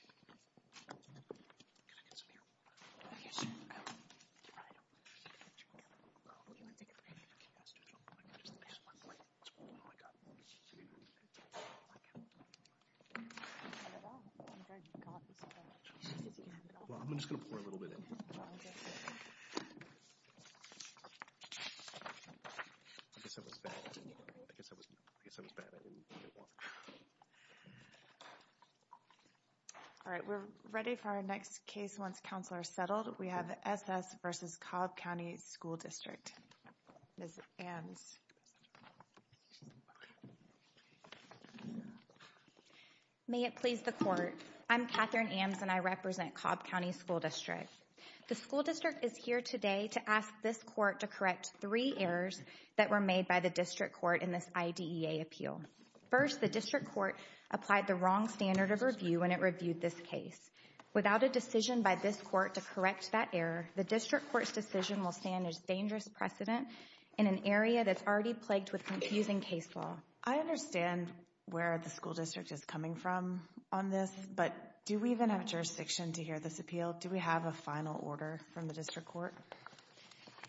Can I get some here? Yes, you can. Do you want to take a break? Yes, just one more. Oh, my God. Oh, my God. You can have it all. Well, I'm just going to pour a little bit in here. I guess I was bad. I guess I was bad and didn't want it. All right, we're ready for our next case once counselors are settled. We have S.S. v. Cobb County School District. Ms. Ames. May it please the court. I'm Catherine Ames, and I represent Cobb County School District. The school district is here today to ask this court to correct three errors that were made by the district court in this IDEA appeal. First, the district court applied the wrong standard of review when it reviewed this case. Without a decision by this court to correct that error, the district court's decision will stand as dangerous precedent in an area that's already plagued with confusing case law. I understand where the school district is coming from on this, but do we even have jurisdiction to hear this appeal? Do we have a final order from the district court?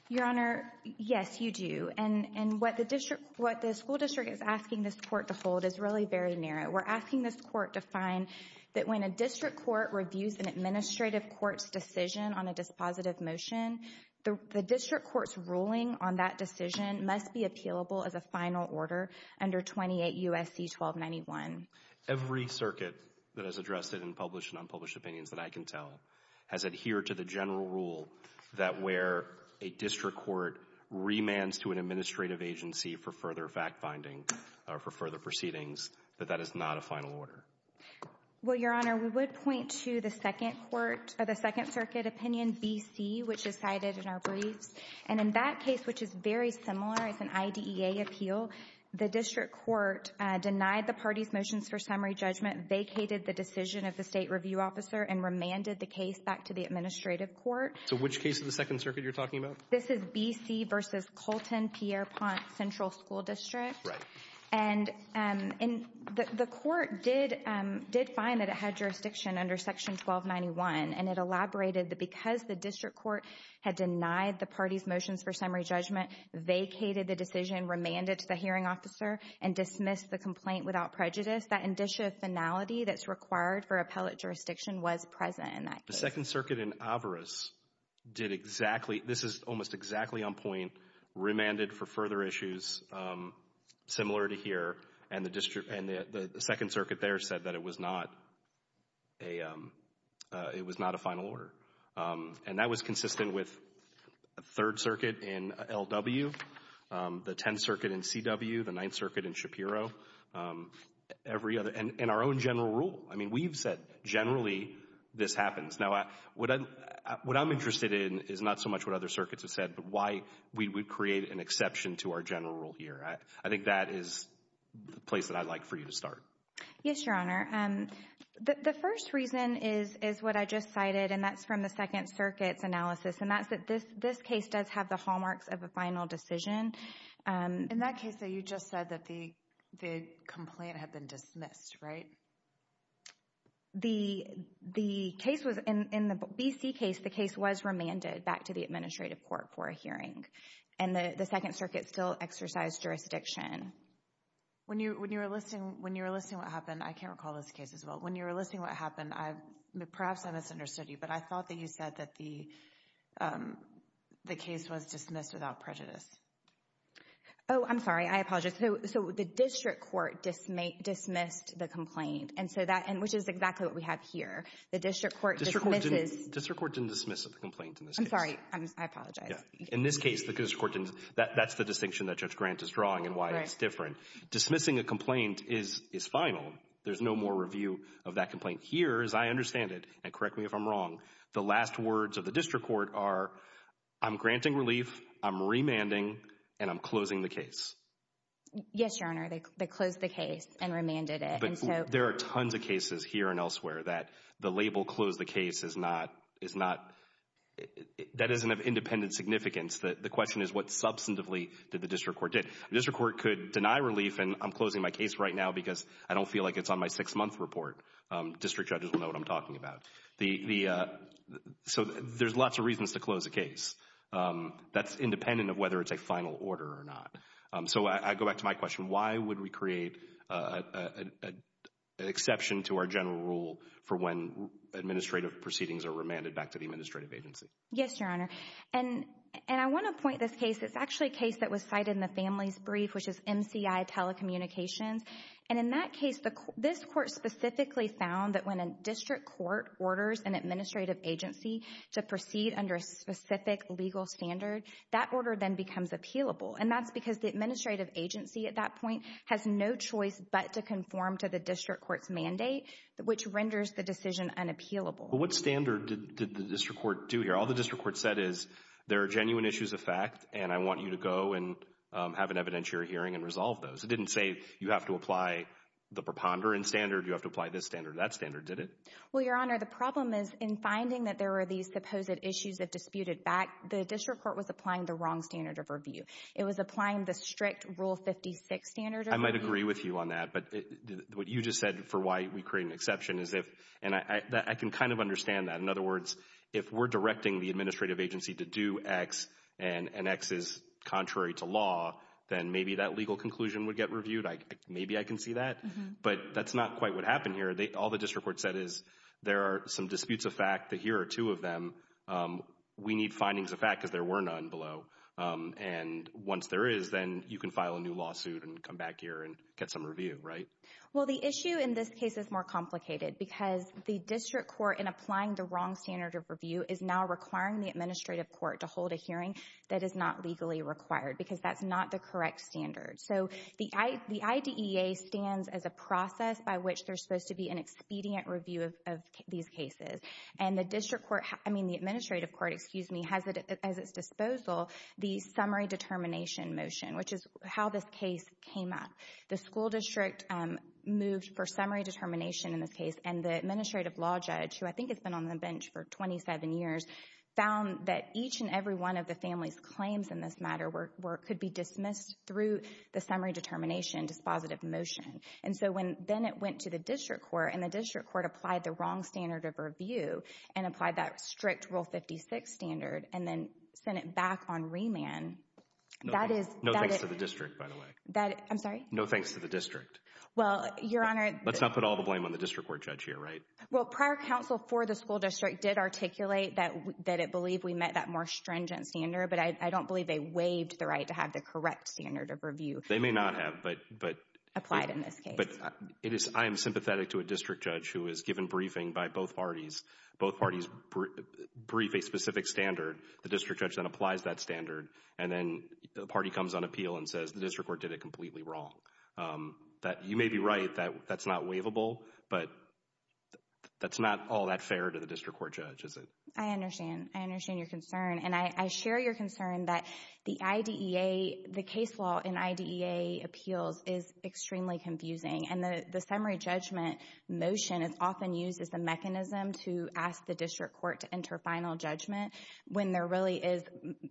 Your Honor, yes, you do. And what the school district is asking this court to hold is really very narrow. We're asking this court to find that when a district court reviews an administrative court's decision on a dispositive motion, the district court's ruling on that decision must be appealable as a final order under 28 U.S.C. 1291. Every circuit that has addressed it in published and unpublished opinions that I can tell has adhered to the general rule that where a district court remands to an administrative agency for further fact-finding or for further proceedings, that that is not a final order. Well, Your Honor, we would point to the second circuit opinion, B.C., which is cited in our briefs. And in that case, which is very similar as an IDEA appeal, the district court denied the party's motions for summary judgment, vacated the decision of the state review officer, and remanded the case back to the administrative court. So which case of the second circuit are you talking about? This is B.C. v. Colton-Pierre-Pont Central School District. Right. And the court did find that it had jurisdiction under Section 1291, and it elaborated that because the district court had denied the party's motions for summary judgment, vacated the decision, remanded to the hearing officer, and dismissed the complaint without prejudice, that indicia finality that's required for appellate jurisdiction was present in that case. The second circuit in Avarice did exactly — this is almost exactly on point — remanded for further issues similar to here, and the second circuit there said that it was not a final order. And that was consistent with the third circuit in L.W., the tenth circuit in C.W., the ninth circuit in Shapiro, every other — and our own general rule. I mean, we've said generally this happens. Now, what I'm interested in is not so much what other circuits have said, but why we would create an exception to our general rule here. I think that is the place that I'd like for you to start. Yes, Your Honor. The first reason is what I just cited, and that's from the second circuit's analysis, and that's that this case does have the hallmarks of a final decision. In that case, though, you just said that the complaint had been dismissed, right? The case was — in the B.C. case, the case was remanded back to the administrative court for a hearing, and the second circuit still exercised jurisdiction. When you were listing what happened, I can't recall this case as well. When you were listing what happened, perhaps I misunderstood you, but I thought that you said that the case was dismissed without prejudice. Oh, I'm sorry. I apologize. So the district court dismissed the complaint, which is exactly what we have here. The district court dismisses — District court didn't dismiss the complaint in this case. I'm sorry. I apologize. In this case, that's the distinction that Judge Grant is drawing and why it's different. Dismissing a complaint is final. There's no more review of that complaint. Here, as I understand it, and correct me if I'm wrong, the last words of the district court are, I'm granting relief, I'm remanding, and I'm closing the case. Yes, Your Honor. They closed the case and remanded it. There are tons of cases here and elsewhere that the label close the case is not — that doesn't have independent significance. The question is what substantively did the district court do? The district court could deny relief, and I'm closing my case right now because I don't feel like it's on my six-month report. District judges will know what I'm talking about. So there's lots of reasons to close a case. That's independent of whether it's a final order or not. So I go back to my question. Why would we create an exception to our general rule for when administrative proceedings are remanded back to the administrative agency? Yes, Your Honor. And I want to point this case. It's actually a case that was cited in the family's brief, which is MCI Telecommunications. And in that case, this court specifically found that when a district court orders an administrative agency to proceed under a specific legal standard, that order then becomes appealable. And that's because the administrative agency at that point has no choice but to conform to the district court's mandate, which renders the decision unappealable. But what standard did the district court do here? All the district court said is there are genuine issues of fact, and I want you to go and have an evidentiary hearing and resolve those. It didn't say you have to apply the preponderant standard, you have to apply this standard or that standard, did it? Well, Your Honor, the problem is in finding that there were these supposed issues that disputed back, the district court was applying the wrong standard of review. It was applying the strict Rule 56 standard of review. I might agree with you on that. But what you just said for why we create an exception is if, and I can kind of understand that. In other words, if we're directing the administrative agency to do X, and X is contrary to law, then maybe that legal conclusion would get reviewed. Maybe I can see that. But that's not quite what happened here. All the district court said is there are some disputes of fact, that here are two of them. We need findings of fact because there were none below. And once there is, then you can file a new lawsuit and come back here and get some review, right? Well, the issue in this case is more complicated because the district court in applying the wrong standard of review is now requiring the administrative court to hold a hearing that is not legally required because that's not the correct standard. So the IDEA stands as a process by which there's supposed to be an expedient review of these cases. And the district court, I mean the administrative court, excuse me, has at its disposal the summary determination motion, which is how this case came up. The school district moved for summary determination in this case, and the administrative law judge, who I think has been on the bench for 27 years, found that each and every one of the family's claims in this matter could be dismissed through the summary determination dispositive motion. And so then it went to the district court, and the district court applied the wrong standard of review and applied that strict Rule 56 standard and then sent it back on remand. No thanks to the district, by the way. I'm sorry? No thanks to the district. Well, Your Honor— Let's not put all the blame on the district court judge here, right? Well, prior counsel for the school district did articulate that it believed we met that more stringent standard, but I don't believe they waived the right to have the correct standard of review. They may not have, but— Applied in this case. But I am sympathetic to a district judge who is given briefing by both parties. Both parties brief a specific standard. The district judge then applies that standard, and then the party comes on appeal and says the district court did it completely wrong. You may be right that that's not waivable, but that's not all that fair to the district court judge, is it? I understand. I understand your concern, and I share your concern that the IDEA—the case law in IDEA appeals is extremely confusing, and the summary judgment motion is often used as a mechanism to ask the district court to enter final judgment when there really is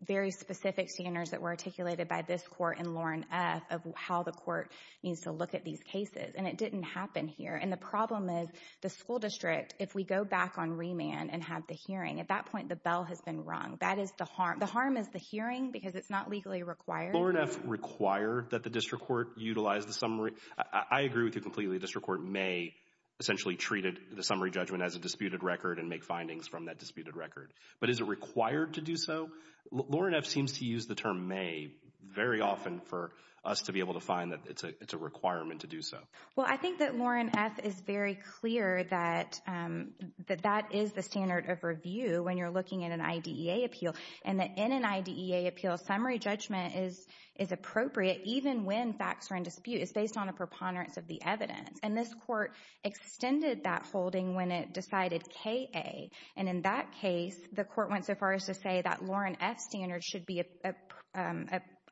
very specific standards that were articulated by this court in Lauren F. of how the court needs to look at these cases, and it didn't happen here. And the problem is the school district, if we go back on remand and have the hearing, at that point the bell has been rung. That is the harm. The harm is the hearing because it's not legally required. Lauren F. required that the district court utilize the summary. I agree with you completely. The district court may essentially treat the summary judgment as a disputed record and make findings from that disputed record. But is it required to do so? Lauren F. seems to use the term may very often for us to be able to find that it's a requirement to do so. Well, I think that Lauren F. is very clear that that is the standard of review when you're looking at an IDEA appeal and that in an IDEA appeal, summary judgment is appropriate even when facts are in dispute. It's based on a preponderance of the evidence. And this court extended that holding when it decided K.A., and in that case the court went so far as to say that Lauren F. standard should be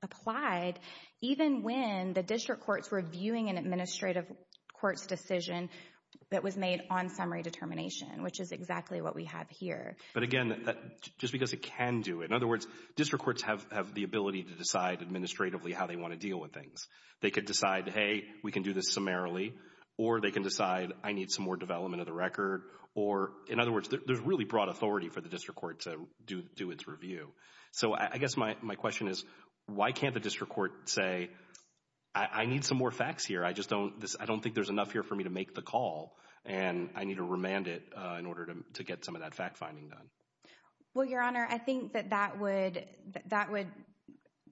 applied even when the district courts were viewing an administrative court's decision that was made on summary determination, which is exactly what we have here. But again, just because it can do it. In other words, district courts have the ability to decide administratively how they want to deal with things. They could decide, hey, we can do this summarily. Or they can decide, I need some more development of the record. Or, in other words, there's really broad authority for the district court to do its review. So I guess my question is, why can't the district court say, I need some more facts here, I just don't think there's enough here for me to make the call, and I need to remand it in order to get some of that fact-finding done? Well, Your Honor, I think that that would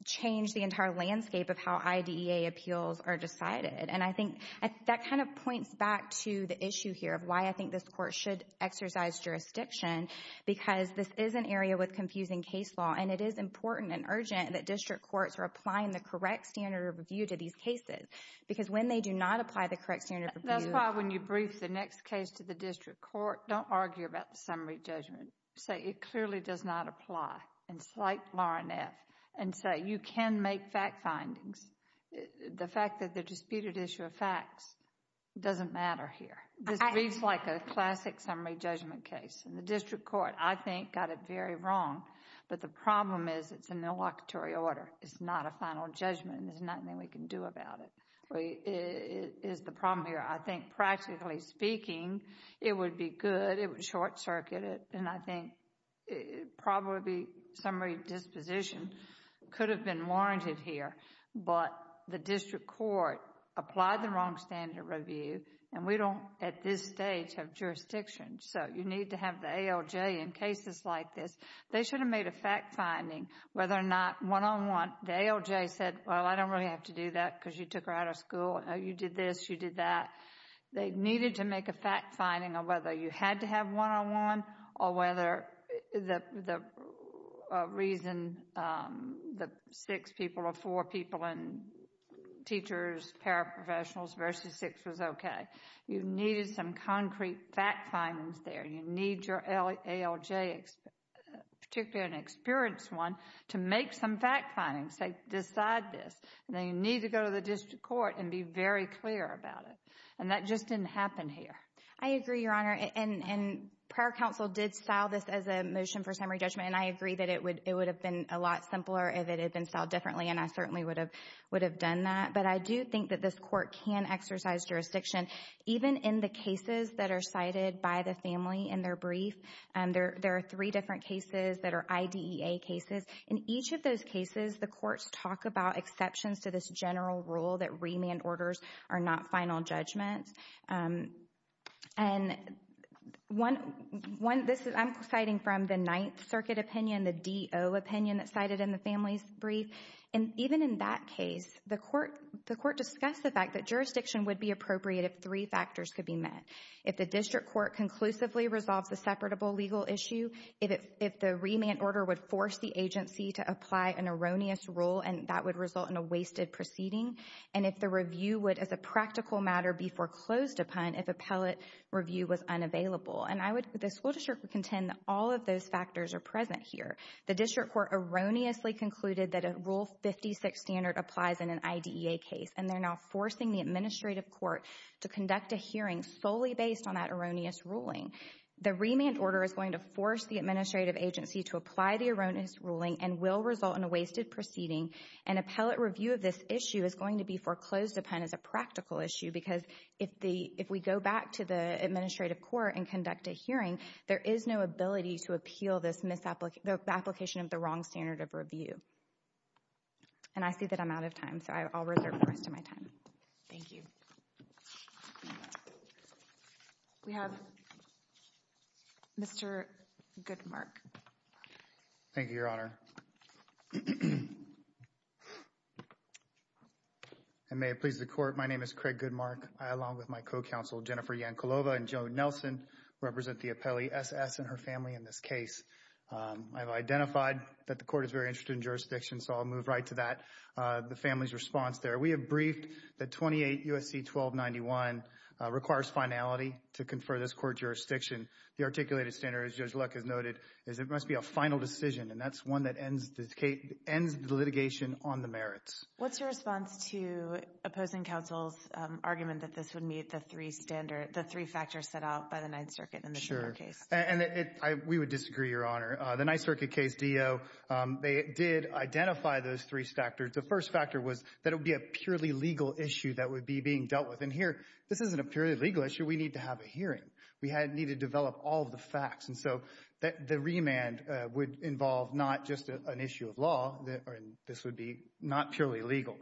change the entire landscape of how IDEA appeals are decided. And I think that kind of points back to the issue here of why I think this court should exercise jurisdiction because this is an area with confusing case law, and it is important and urgent that district courts are applying the correct standard of review to these cases. Because when they do not apply the correct standard of review— That's why when you brief the next case to the district court, don't argue about the summary judgment. Say, it clearly does not apply. And cite Lauren F. and say, you can make fact findings. The fact that they're disputed issue of facts doesn't matter here. This reads like a classic summary judgment case. And the district court, I think, got it very wrong. But the problem is it's in the locatory order. It's not a final judgment. There's nothing we can do about it, is the problem here. I think, practically speaking, it would be good. It would short-circuit it, and I think probably summary disposition could have been warranted here. But the district court applied the wrong standard of review, and we don't, at this stage, have jurisdiction. So you need to have the ALJ in cases like this. They should have made a fact finding whether or not one-on-one. The ALJ said, well, I don't really have to do that because you took her out of school. You did this, you did that. They needed to make a fact finding on whether you had to have one-on-one or whether the reason the six people or four people and teachers, paraprofessionals versus six was okay. You needed some concrete fact findings there. You need your ALJ, particularly an experienced one, to make some fact findings. Say, decide this. And then you need to go to the district court and be very clear about it. And that just didn't happen here. I agree, Your Honor, and prior counsel did style this as a motion for summary judgment, and I agree that it would have been a lot simpler if it had been styled differently, and I certainly would have done that. But I do think that this court can exercise jurisdiction, even in the cases that are cited by the family in their brief. There are three different cases that are IDEA cases. In each of those cases, the courts talk about exceptions to this general rule that remand orders are not final judgments. I'm citing from the Ninth Circuit opinion, the DO opinion that's cited in the family's brief. And even in that case, the court discussed the fact that jurisdiction would be appropriate if three factors could be met. If the district court conclusively resolves a separable legal issue, if the remand order would force the agency to apply an erroneous rule, and that would result in a wasted proceeding, and if the review would, as a practical matter, be foreclosed upon if appellate review was unavailable. And the school district would contend that all of those factors are present here. The district court erroneously concluded that a Rule 56 standard applies in an IDEA case, and they're now forcing the administrative court to conduct a hearing solely based on that erroneous ruling. The remand order is going to force the administrative agency to apply the erroneous ruling and will result in a wasted proceeding, and appellate review of this issue is going to be foreclosed upon as a practical issue because if we go back to the administrative court and conduct a hearing, there is no ability to appeal the application of the wrong standard of review. And I see that I'm out of time, so I'll reserve the rest of my time. Thank you. We have Mr. Goodmark. Thank you, Your Honor. And may it please the Court, my name is Craig Goodmark. I, along with my co-counsel Jennifer Yankolova and Joan Nelson, represent the appellee S.S. and her family in this case. I've identified that the court is very interested in jurisdiction, so I'll move right to that, the family's response there. We have briefed that 28 U.S.C. 1291 requires finality to confer this court jurisdiction. The articulated standard, as Judge Luck has noted, is it must be a final decision, and that's one that ends the litigation on the merits. What's your response to opposing counsel's argument that this would meet the three standards, the three factors set out by the Ninth Circuit in the general case? Sure. And we would disagree, Your Honor. The Ninth Circuit case, D.O., they did identify those three factors. The first factor was that it would be a purely legal issue that would be being dealt with. We need to have a hearing. We need to develop all of the facts. And so the remand would involve not just an issue of law, and this would be not purely legal.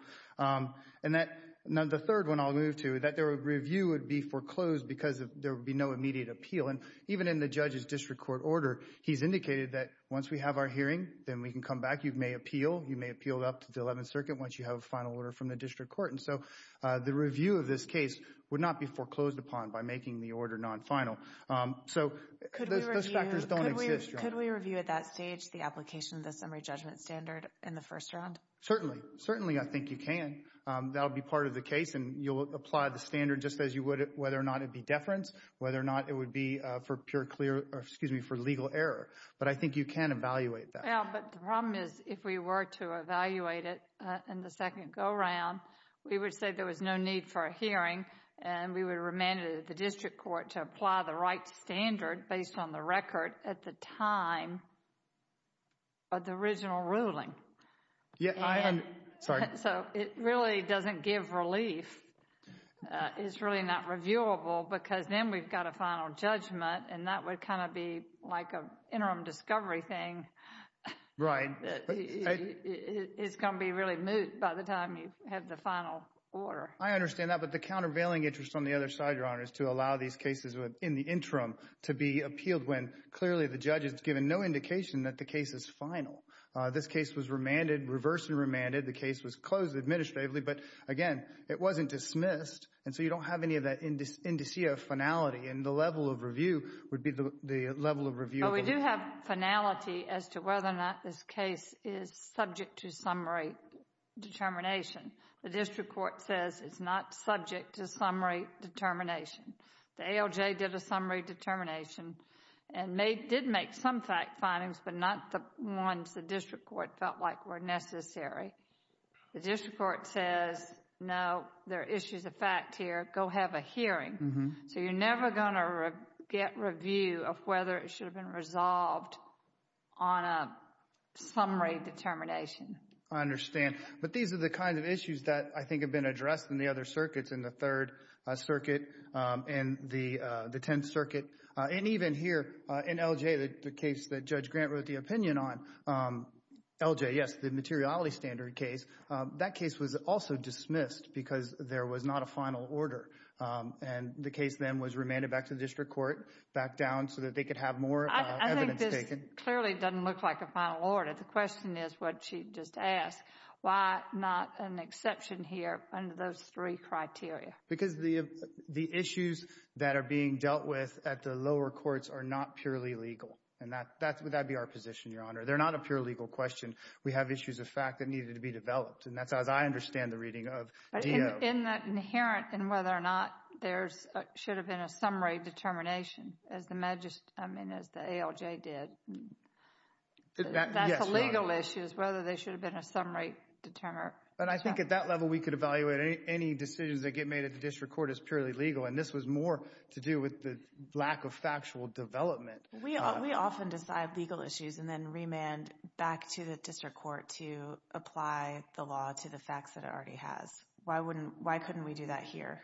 And the third one I'll move to, that the review would be foreclosed because there would be no immediate appeal. And even in the judge's district court order, he's indicated that once we have our hearing, then we can come back. You may appeal. You may appeal up to the Eleventh Circuit once you have a final order from the district court. And so the review of this case would not be foreclosed upon by making the order non-final. So those factors don't exist, Your Honor. Could we review at that stage the application of the summary judgment standard in the first round? Certainly. Certainly I think you can. That would be part of the case, and you'll apply the standard just as you would whether or not it would be deference, whether or not it would be for pure clear or, excuse me, for legal error. But I think you can evaluate that. Well, but the problem is if we were to evaluate it in the second go-round, we would say there was no need for a hearing, and we would remand it at the district court to apply the right standard based on the record at the time of the original ruling. Yeah, I understand. Sorry. So it really doesn't give relief. It's really not reviewable because then we've got a final judgment, and that would kind of be like an interim discovery thing. Right. It's going to be really moot by the time you have the final order. I understand that. But the countervailing interest on the other side, Your Honor, is to allow these cases in the interim to be appealed when clearly the judge has given no indication that the case is final. This case was remanded, reversed and remanded. The case was closed administratively, but, again, it wasn't dismissed, and so you don't have any of that indicia of finality, and the level of review would be the level of reviewable. We do have finality as to whether or not this case is subject to summary determination. The district court says it's not subject to summary determination. The ALJ did a summary determination and did make some fact findings, but not the ones the district court felt like were necessary. The district court says, no, there are issues of fact here. Go have a hearing. So you're never going to get review of whether it should have been resolved on a summary determination. I understand. But these are the kinds of issues that I think have been addressed in the other circuits, in the Third Circuit, in the Tenth Circuit, and even here in LJ, the case that Judge Grant wrote the opinion on. LJ, yes, the materiality standard case. That case was also dismissed because there was not a final order, and the case then was remanded back to the district court, back down so that they could have more evidence taken. I think this clearly doesn't look like a final order. The question is what she just asked, why not an exception here under those three criteria? Because the issues that are being dealt with at the lower courts are not purely legal, and that would be our position, Your Honor. They're not a pure legal question. We have issues of fact that needed to be developed, and that's as I understand the reading of DO. But in that inherent in whether or not there should have been a summary determination, as the ALJ did, that's the legal issues, whether there should have been a summary determination. But I think at that level we could evaluate any decisions that get made at the district court as purely legal, and this was more to do with the lack of factual development. We often decide legal issues and then remand back to the district court to apply the law to the facts that it already has. Why couldn't we do that here?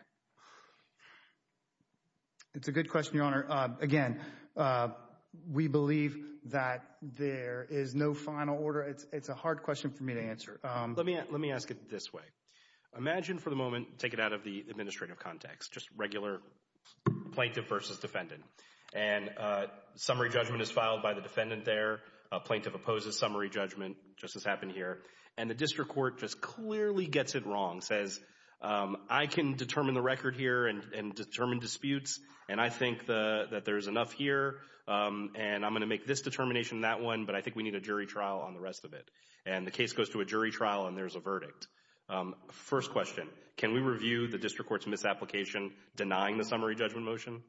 It's a good question, Your Honor. Again, we believe that there is no final order. It's a hard question for me to answer. Let me ask it this way. Imagine for the moment, take it out of the administrative context, just regular plaintiff versus defendant, and summary judgment is filed by the defendant there. A plaintiff opposes summary judgment, just as happened here, and the district court just clearly gets it wrong, says I can determine the record here and determine disputes, and I think that there's enough here, and I'm going to make this determination and that one, but I think we need a jury trial on the rest of it. And the case goes to a jury trial, and there's a verdict. First question, can we review the district court's misapplication denying the summary judgment motion,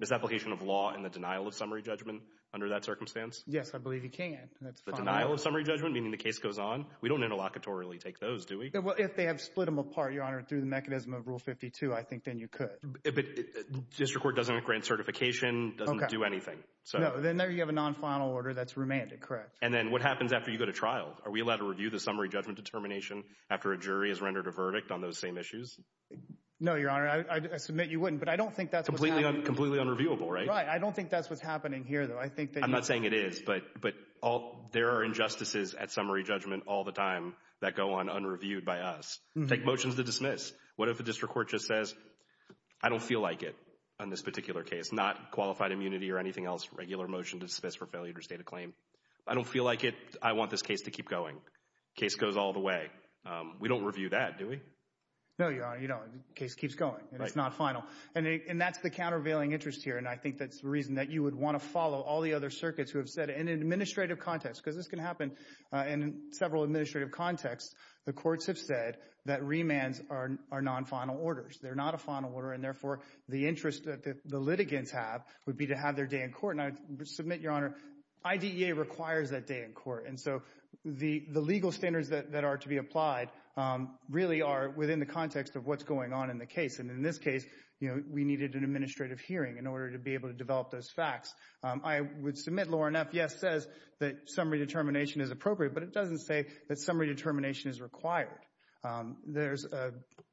misapplication of law and the denial of summary judgment under that circumstance? Yes, I believe you can. The denial of summary judgment, meaning the case goes on? We don't interlocutorily take those, do we? If they have split them apart, Your Honor, through the mechanism of Rule 52, I think then you could. But district court doesn't grant certification, doesn't do anything. No, then there you have a non-final order that's remanded, correct. And then what happens after you go to trial? Are we allowed to review the summary judgment determination after a jury has rendered a verdict on those same issues? No, Your Honor, I submit you wouldn't, but I don't think that's what's happening. Completely unreviewable, right? Right. I don't think that's what's happening here, though. I'm not saying it is, but there are injustices at summary judgment all the time that go on unreviewed by us. Take motions to dismiss. What if a district court just says, I don't feel like it on this particular case, not qualified immunity or anything else, regular motion to dismiss for failure to state a claim. I don't feel like it. I want this case to keep going. Case goes all the way. We don't review that, do we? No, Your Honor, you don't. Case keeps going, and it's not final. And that's the countervailing interest here, and I think that's the reason that you would want to follow all the other circuits who have said it. Because this can happen in several administrative contexts. The courts have said that remands are non-final orders. They're not a final order, and therefore the interest that the litigants have would be to have their day in court. And I submit, Your Honor, IDEA requires that day in court. And so the legal standards that are to be applied really are within the context of what's going on in the case. And in this case, you know, we needed an administrative hearing in order to be able to develop those facts. I would submit, lower enough, yes, says that summary determination is appropriate, but it doesn't say that summary determination is required. There's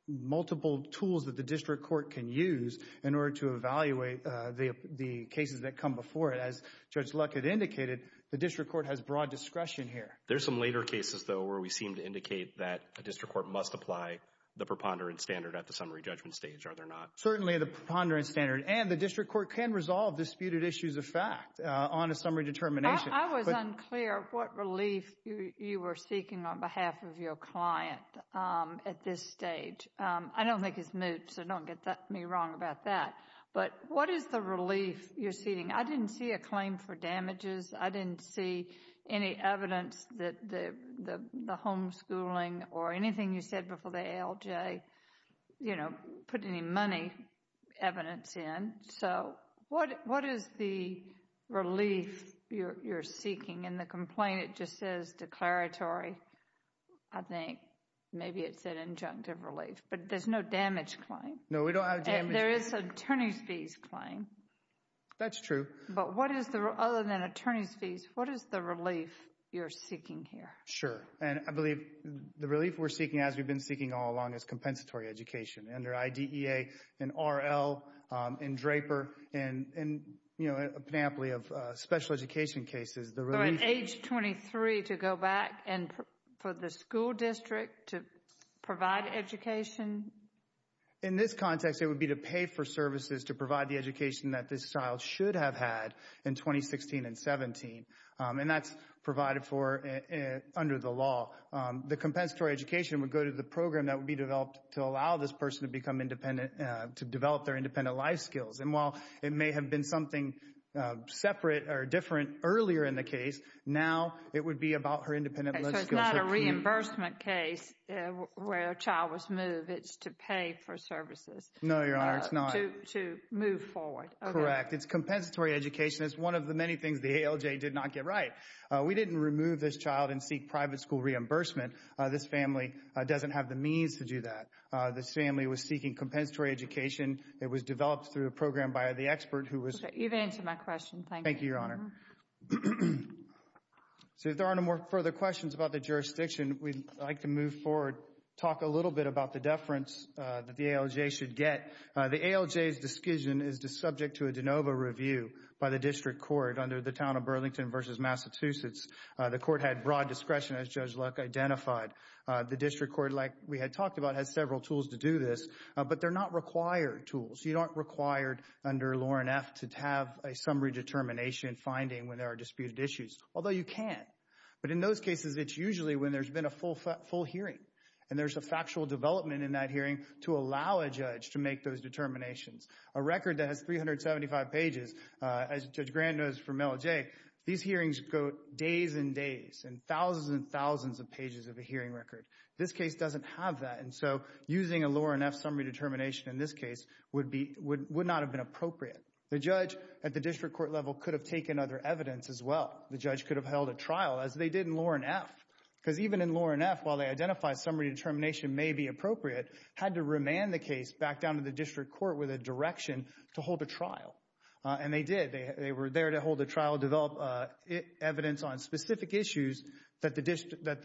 multiple tools that the district court can use in order to evaluate the cases that come before it. As Judge Luckett indicated, the district court has broad discretion here. There's some later cases, though, where we seem to indicate that a district court must apply the preponderance standard at the summary judgment stage. Are there not? Certainly the preponderance standard. And the district court can resolve disputed issues of fact on a summary determination. I was unclear what relief you were seeking on behalf of your client at this stage. I don't think it's moot, so don't get me wrong about that. But what is the relief you're seeking? I didn't see a claim for damages. I didn't see any evidence that the homeschooling or anything you said before the ALJ, you know, put any money evidence in. So what is the relief you're seeking? In the complaint, it just says declaratory. I think maybe it said injunctive relief. But there's no damage claim. No, we don't have damage. And there is an attorney's fees claim. That's true. But what is the, other than attorney's fees, what is the relief you're seeking here? Sure. And I believe the relief we're seeking, as we've been seeking all along, is compensatory education. Under IDEA and RL and DRAPER and, you know, a panoply of special education cases. So at age 23 to go back and for the school district to provide education? In this context, it would be to pay for services to provide the education that this child should have had in 2016 and 17. And that's provided for under the law. The compensatory education would go to the program that would be developed to allow this person to become independent, to develop their independent life skills. And while it may have been something separate or different earlier in the case, now it would be about her independent life skills. So it's not a reimbursement case where a child was moved. It's to pay for services. No, Your Honor, it's not. To move forward. Correct. It's compensatory education. It's one of the many things the ALJ did not get right. We didn't remove this child and seek private school reimbursement. This family doesn't have the means to do that. This family was seeking compensatory education. It was developed through a program by the expert who was. You've answered my question. Thank you. Thank you, Your Honor. So if there are no more further questions about the jurisdiction, we'd like to move forward, talk a little bit about the deference that the ALJ should get. The ALJ's discussion is subject to a de novo review by the district court under the town of Burlington versus Massachusetts. The court had broad discretion, as Judge Luck identified. The district court, like we had talked about, has several tools to do this. But they're not required tools. You aren't required under Lawren F. to have a summary determination finding when there are disputed issues, although you can. But in those cases, it's usually when there's been a full hearing and there's a factual development in that hearing to allow a judge to make those determinations. A record that has 375 pages, as Judge Grand knows from ALJ, these hearings go days and days and thousands and thousands of pages of a hearing record. This case doesn't have that. And so using a Lawren F. summary determination in this case would not have been appropriate. The judge at the district court level could have taken other evidence as well. The judge could have held a trial, as they did in Lawren F. Because even in Lawren F., while they identified summary determination may be appropriate, had to remand the case back down to the district court with a direction to hold a trial. And they did. They were there to hold a trial, develop evidence on specific issues that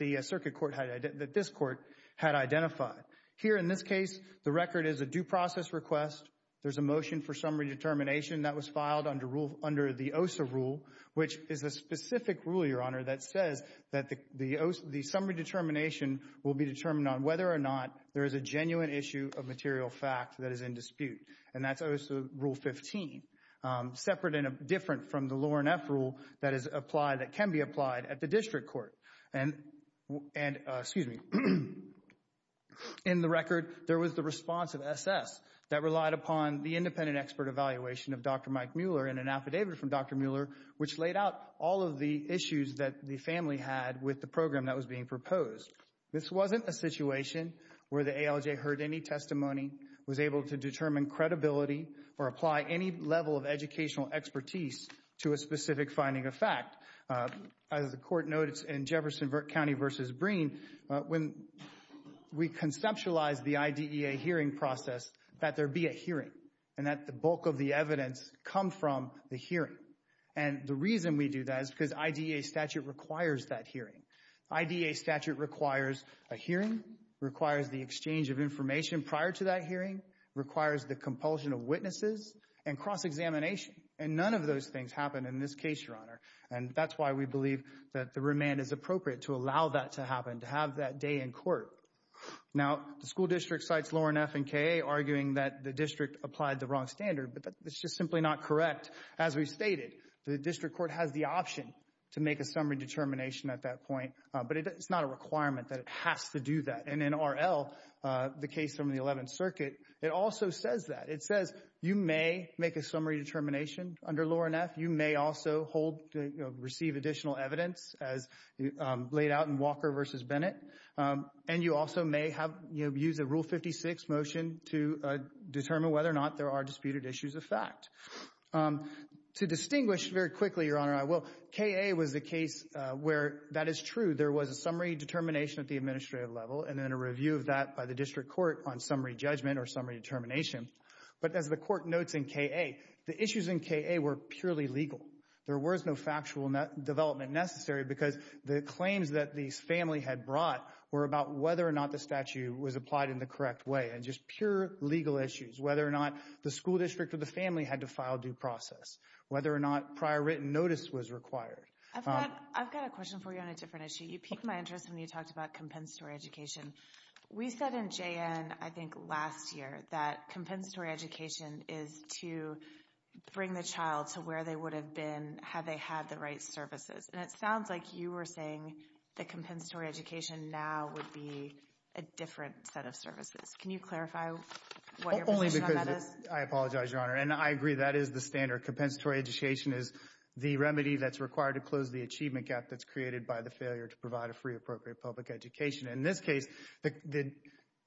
this court had identified. Here in this case, the record is a due process request. There's a motion for summary determination that was filed under the OSA rule, which is a specific rule, Your Honor, that says that the summary determination will be determined on whether or not there is a genuine issue of material fact that is in dispute. And that's OSA rule 15. Separate and different from the Lawren F. rule that can be applied at the district court. And, excuse me, in the record, there was the response of SS that relied upon the independent expert evaluation of Dr. Mike Mueller and an affidavit from Dr. Mueller, which laid out all of the issues that the family had with the program that was being proposed. This wasn't a situation where the ALJ heard any testimony, was able to determine credibility, or apply any level of educational expertise to a specific finding of fact. As the court noted in Jefferson County v. Breen, when we conceptualized the IDEA hearing process, that there be a hearing and that the bulk of the evidence come from the hearing. And the reason we do that is because IDEA statute requires that hearing. IDEA statute requires a hearing, requires the exchange of information prior to that hearing, requires the compulsion of witnesses, and cross-examination. And none of those things happen in this case, Your Honor. And that's why we believe that the remand is appropriate to allow that to happen, to have that day in court. Now, the school district cites Loren F. and K.A. arguing that the district applied the wrong standard, but that's just simply not correct. As we stated, the district court has the option to make a summary determination at that point, but it's not a requirement that it has to do that. And in R.L., the case from the 11th Circuit, it also says that. It says you may make a summary determination under Loren F., you may also receive additional evidence as laid out in Walker v. Bennett, and you also may use a Rule 56 motion to determine whether or not there are disputed issues of fact. To distinguish very quickly, Your Honor, I will. K.A. was the case where that is true. There was a summary determination at the administrative level and then a review of that by the district court on summary judgment or summary determination. But as the court notes in K.A., the issues in K.A. were purely legal. There was no factual development necessary because the claims that the family had brought were about whether or not the statute was applied in the correct way, and just pure legal issues, whether or not the school district or the family had to file due process, whether or not prior written notice was required. I've got a question for you on a different issue. You piqued my interest when you talked about compensatory education. We said in J.N., I think last year, that compensatory education is to bring the child to where they would have been had they had the right services. And it sounds like you were saying that compensatory education now would be a different set of services. Can you clarify what your position on that is? Only because it's – I apologize, Your Honor, and I agree that is the standard. Compensatory education is the remedy that's required to close the achievement gap that's created by the failure to provide a free, appropriate public education. In this case,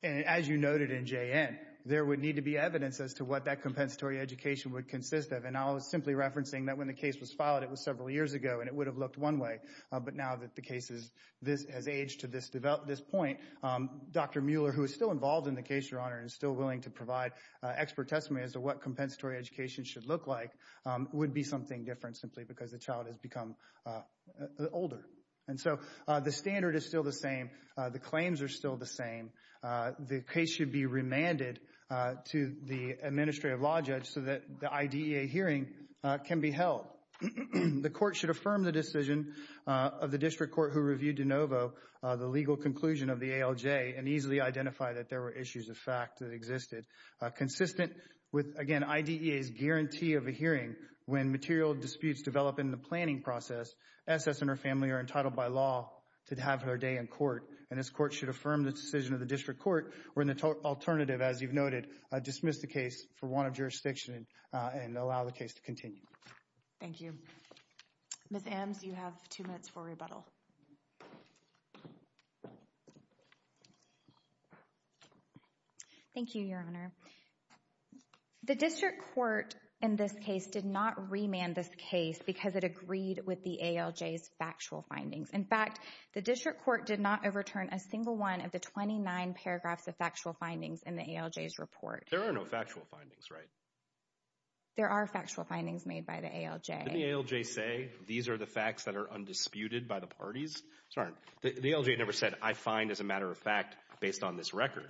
as you noted in J.N., there would need to be evidence as to what that compensatory education would consist of. And I was simply referencing that when the case was filed, it was several years ago, and it would have looked one way. But now that the case has aged to this point, Dr. Mueller, who is still involved in the case, Your Honor, and is still willing to provide expert testimony as to what compensatory education should look like, would be something different simply because the child has become older. And so the standard is still the same. The claims are still the same. The case should be remanded to the administrative law judge so that the IDEA hearing can be held. The court should affirm the decision of the district court who reviewed de novo the legal conclusion of the ALJ and easily identify that there were issues of fact that existed. Consistent with, again, IDEA's guarantee of a hearing when material disputes develop in the planning process, S.S. and her family are entitled by law to have their day in court. And this court should affirm the decision of the district court or, in the alternative, as you've noted, dismiss the case for want of jurisdiction and allow the case to continue. Thank you. Ms. Ames, you have two minutes for rebuttal. Thank you, Your Honor. The district court in this case did not remand this case because it agreed with the ALJ's factual findings. In fact, the district court did not overturn a single one of the 29 paragraphs of factual findings in the ALJ's report. There are no factual findings, right? There are factual findings made by the ALJ. Didn't the ALJ say these are the facts that are undisputed by the parties? Sorry, the ALJ never said I find as a matter of fact based on this record.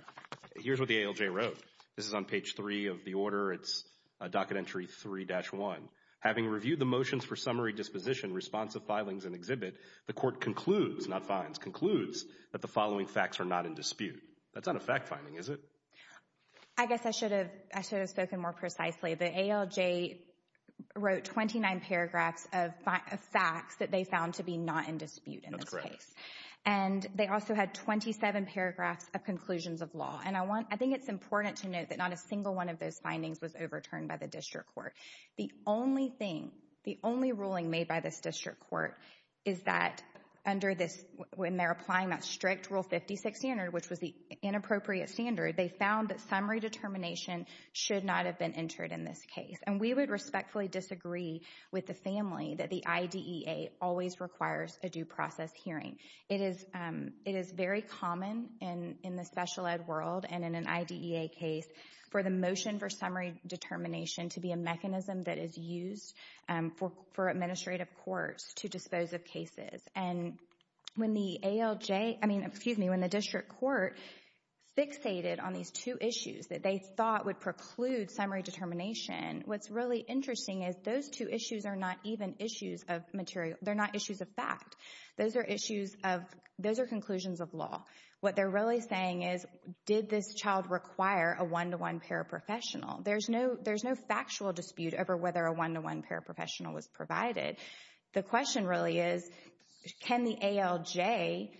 Here's what the ALJ wrote. This is on page 3 of the order. It's docket entry 3-1. Having reviewed the motions for summary disposition, responsive filings and exhibit, the court concludes, not finds, concludes that the following facts are not in dispute. That's not a fact finding, is it? I guess I should have spoken more precisely. The ALJ wrote 29 paragraphs of facts that they found to be not in dispute in this case. And they also had 27 paragraphs of conclusions of law. And I think it's important to note that not a single one of those findings was overturned by the district court. The only thing, the only ruling made by this district court is that under this, when they're applying that strict Rule 56 standard, which was the inappropriate standard, they found that summary determination should not have been entered in this case. And we would respectfully disagree with the family that the IDEA always requires a due process hearing. It is very common in the special ed world and in an IDEA case for the motion for summary determination to be a mechanism that is used for administrative courts to dispose of cases. And when the ALJ, I mean, excuse me, when the district court fixated on these two issues that they thought would preclude summary determination, what's really interesting is those two issues are not even issues of material. They're not issues of fact. Those are issues of, those are conclusions of law. What they're really saying is, did this child require a one-to-one paraprofessional? There's no factual dispute over whether a one-to-one paraprofessional was provided. The question really is, can the ALJ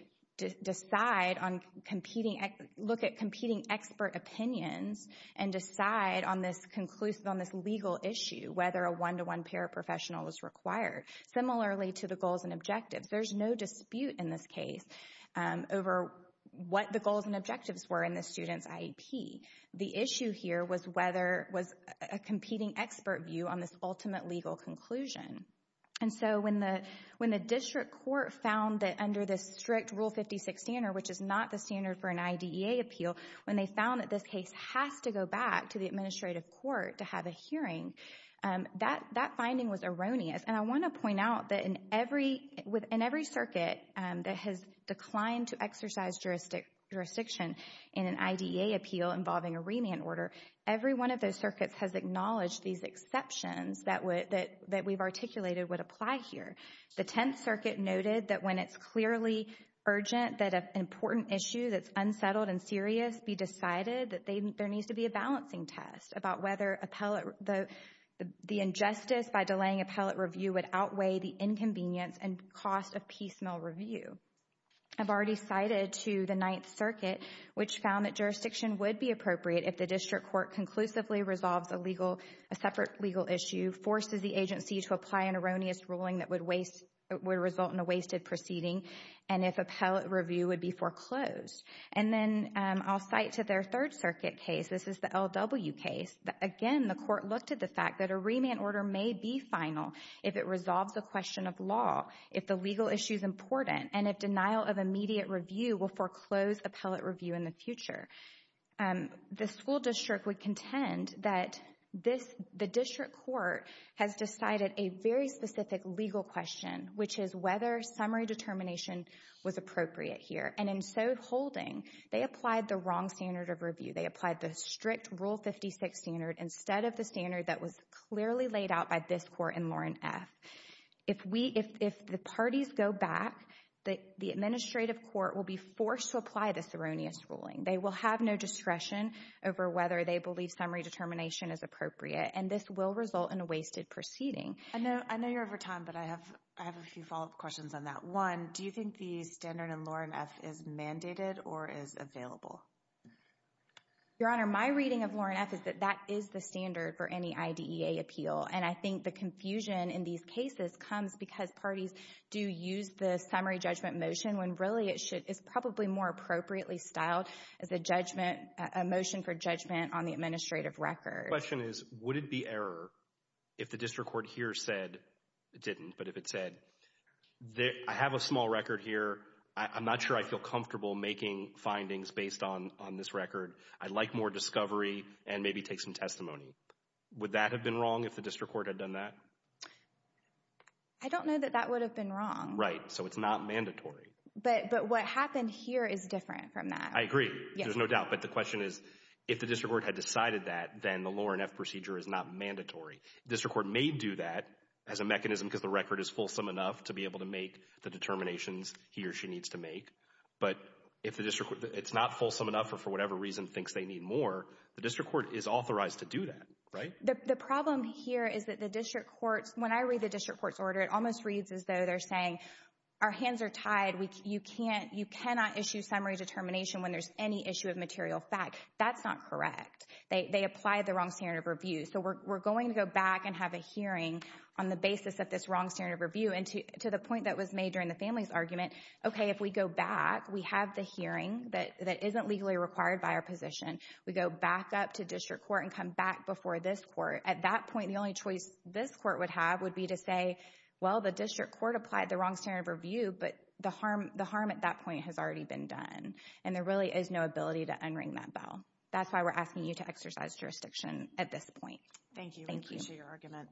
decide on competing, look at competing expert opinions and decide on this conclusive, on this legal issue, whether a one-to-one paraprofessional was required? Similarly to the goals and objectives. There's no dispute in this case over what the goals and objectives were in the student's IEP. The issue here was whether, was a competing expert view on this ultimate legal conclusion. And so when the district court found that under this strict Rule 56 standard, which is not the standard for an IDEA appeal, when they found that this case has to go back to the administrative court to have a hearing, that finding was erroneous. And I want to point out that in every circuit that has declined to exercise jurisdiction in an IDEA appeal involving a remand order, every one of those circuits has acknowledged these exceptions that we've articulated would apply here. The Tenth Circuit noted that when it's clearly urgent that an important issue that's unsettled and serious be decided that there needs to be a balancing test about whether the injustice by delaying appellate review would outweigh the inconvenience and cost of piecemeal review. I've already cited to the Ninth Circuit, which found that jurisdiction would be appropriate if the district court conclusively resolves a separate legal issue, forces the agency to apply an erroneous ruling that would result in a wasted proceeding, and if appellate review would be foreclosed. And then I'll cite to their Third Circuit case. This is the L.W. case. Again, the court looked at the fact that a remand order may be final if it resolves a question of law, if the legal issue is important, and if denial of immediate review will foreclose appellate review in the future. The school district would contend that the district court has decided a very specific legal question, which is whether summary determination was appropriate here. And in so holding, they applied the wrong standard of review. They applied the strict Rule 56 standard instead of the standard that was clearly laid out by this court in Lauren F. If the parties go back, the administrative court will be forced to apply this erroneous ruling. They will have no discretion over whether they believe summary determination is appropriate, and this will result in a wasted proceeding. I know you're over time, but I have a few follow-up questions on that. One, do you think the standard in Lauren F. is mandated or is available? Your Honor, my reading of Lauren F. is that that is the standard for any IDEA appeal, and I think the confusion in these cases comes because parties do use the summary judgment motion when really it's probably more appropriately styled as a motion for judgment on the administrative record. The question is, would it be error if the district court here said it didn't, but if it said, I have a small record here. I'm not sure I feel comfortable making findings based on this record. I'd like more discovery and maybe take some testimony. Would that have been wrong if the district court had done that? I don't know that that would have been wrong. Right, so it's not mandatory. But what happened here is different from that. I agree. There's no doubt. But the question is, if the district court had decided that, then the Lauren F. procedure is not mandatory. The district court may do that as a mechanism because the record is fulsome enough to be able to make the determinations he or she needs to make. But if it's not fulsome enough or for whatever reason thinks they need more, the district court is authorized to do that, right? The problem here is that the district courts, when I read the district court's order, it almost reads as though they're saying, our hands are tied. You cannot issue summary determination when there's any issue of material fact. That's not correct. They applied the wrong standard of review. So we're going to go back and have a hearing on the basis of this wrong standard of review. And to the point that was made during the family's argument, okay, if we go back, we have the hearing that isn't legally required by our position. We go back up to district court and come back before this court. At that point, the only choice this court would have would be to say, well, the district court applied the wrong standard of review, but the harm at that point has already been done. And there really is no ability to unring that bell. That's why we're asking you to exercise jurisdiction at this point. Thank you. We appreciate your argument.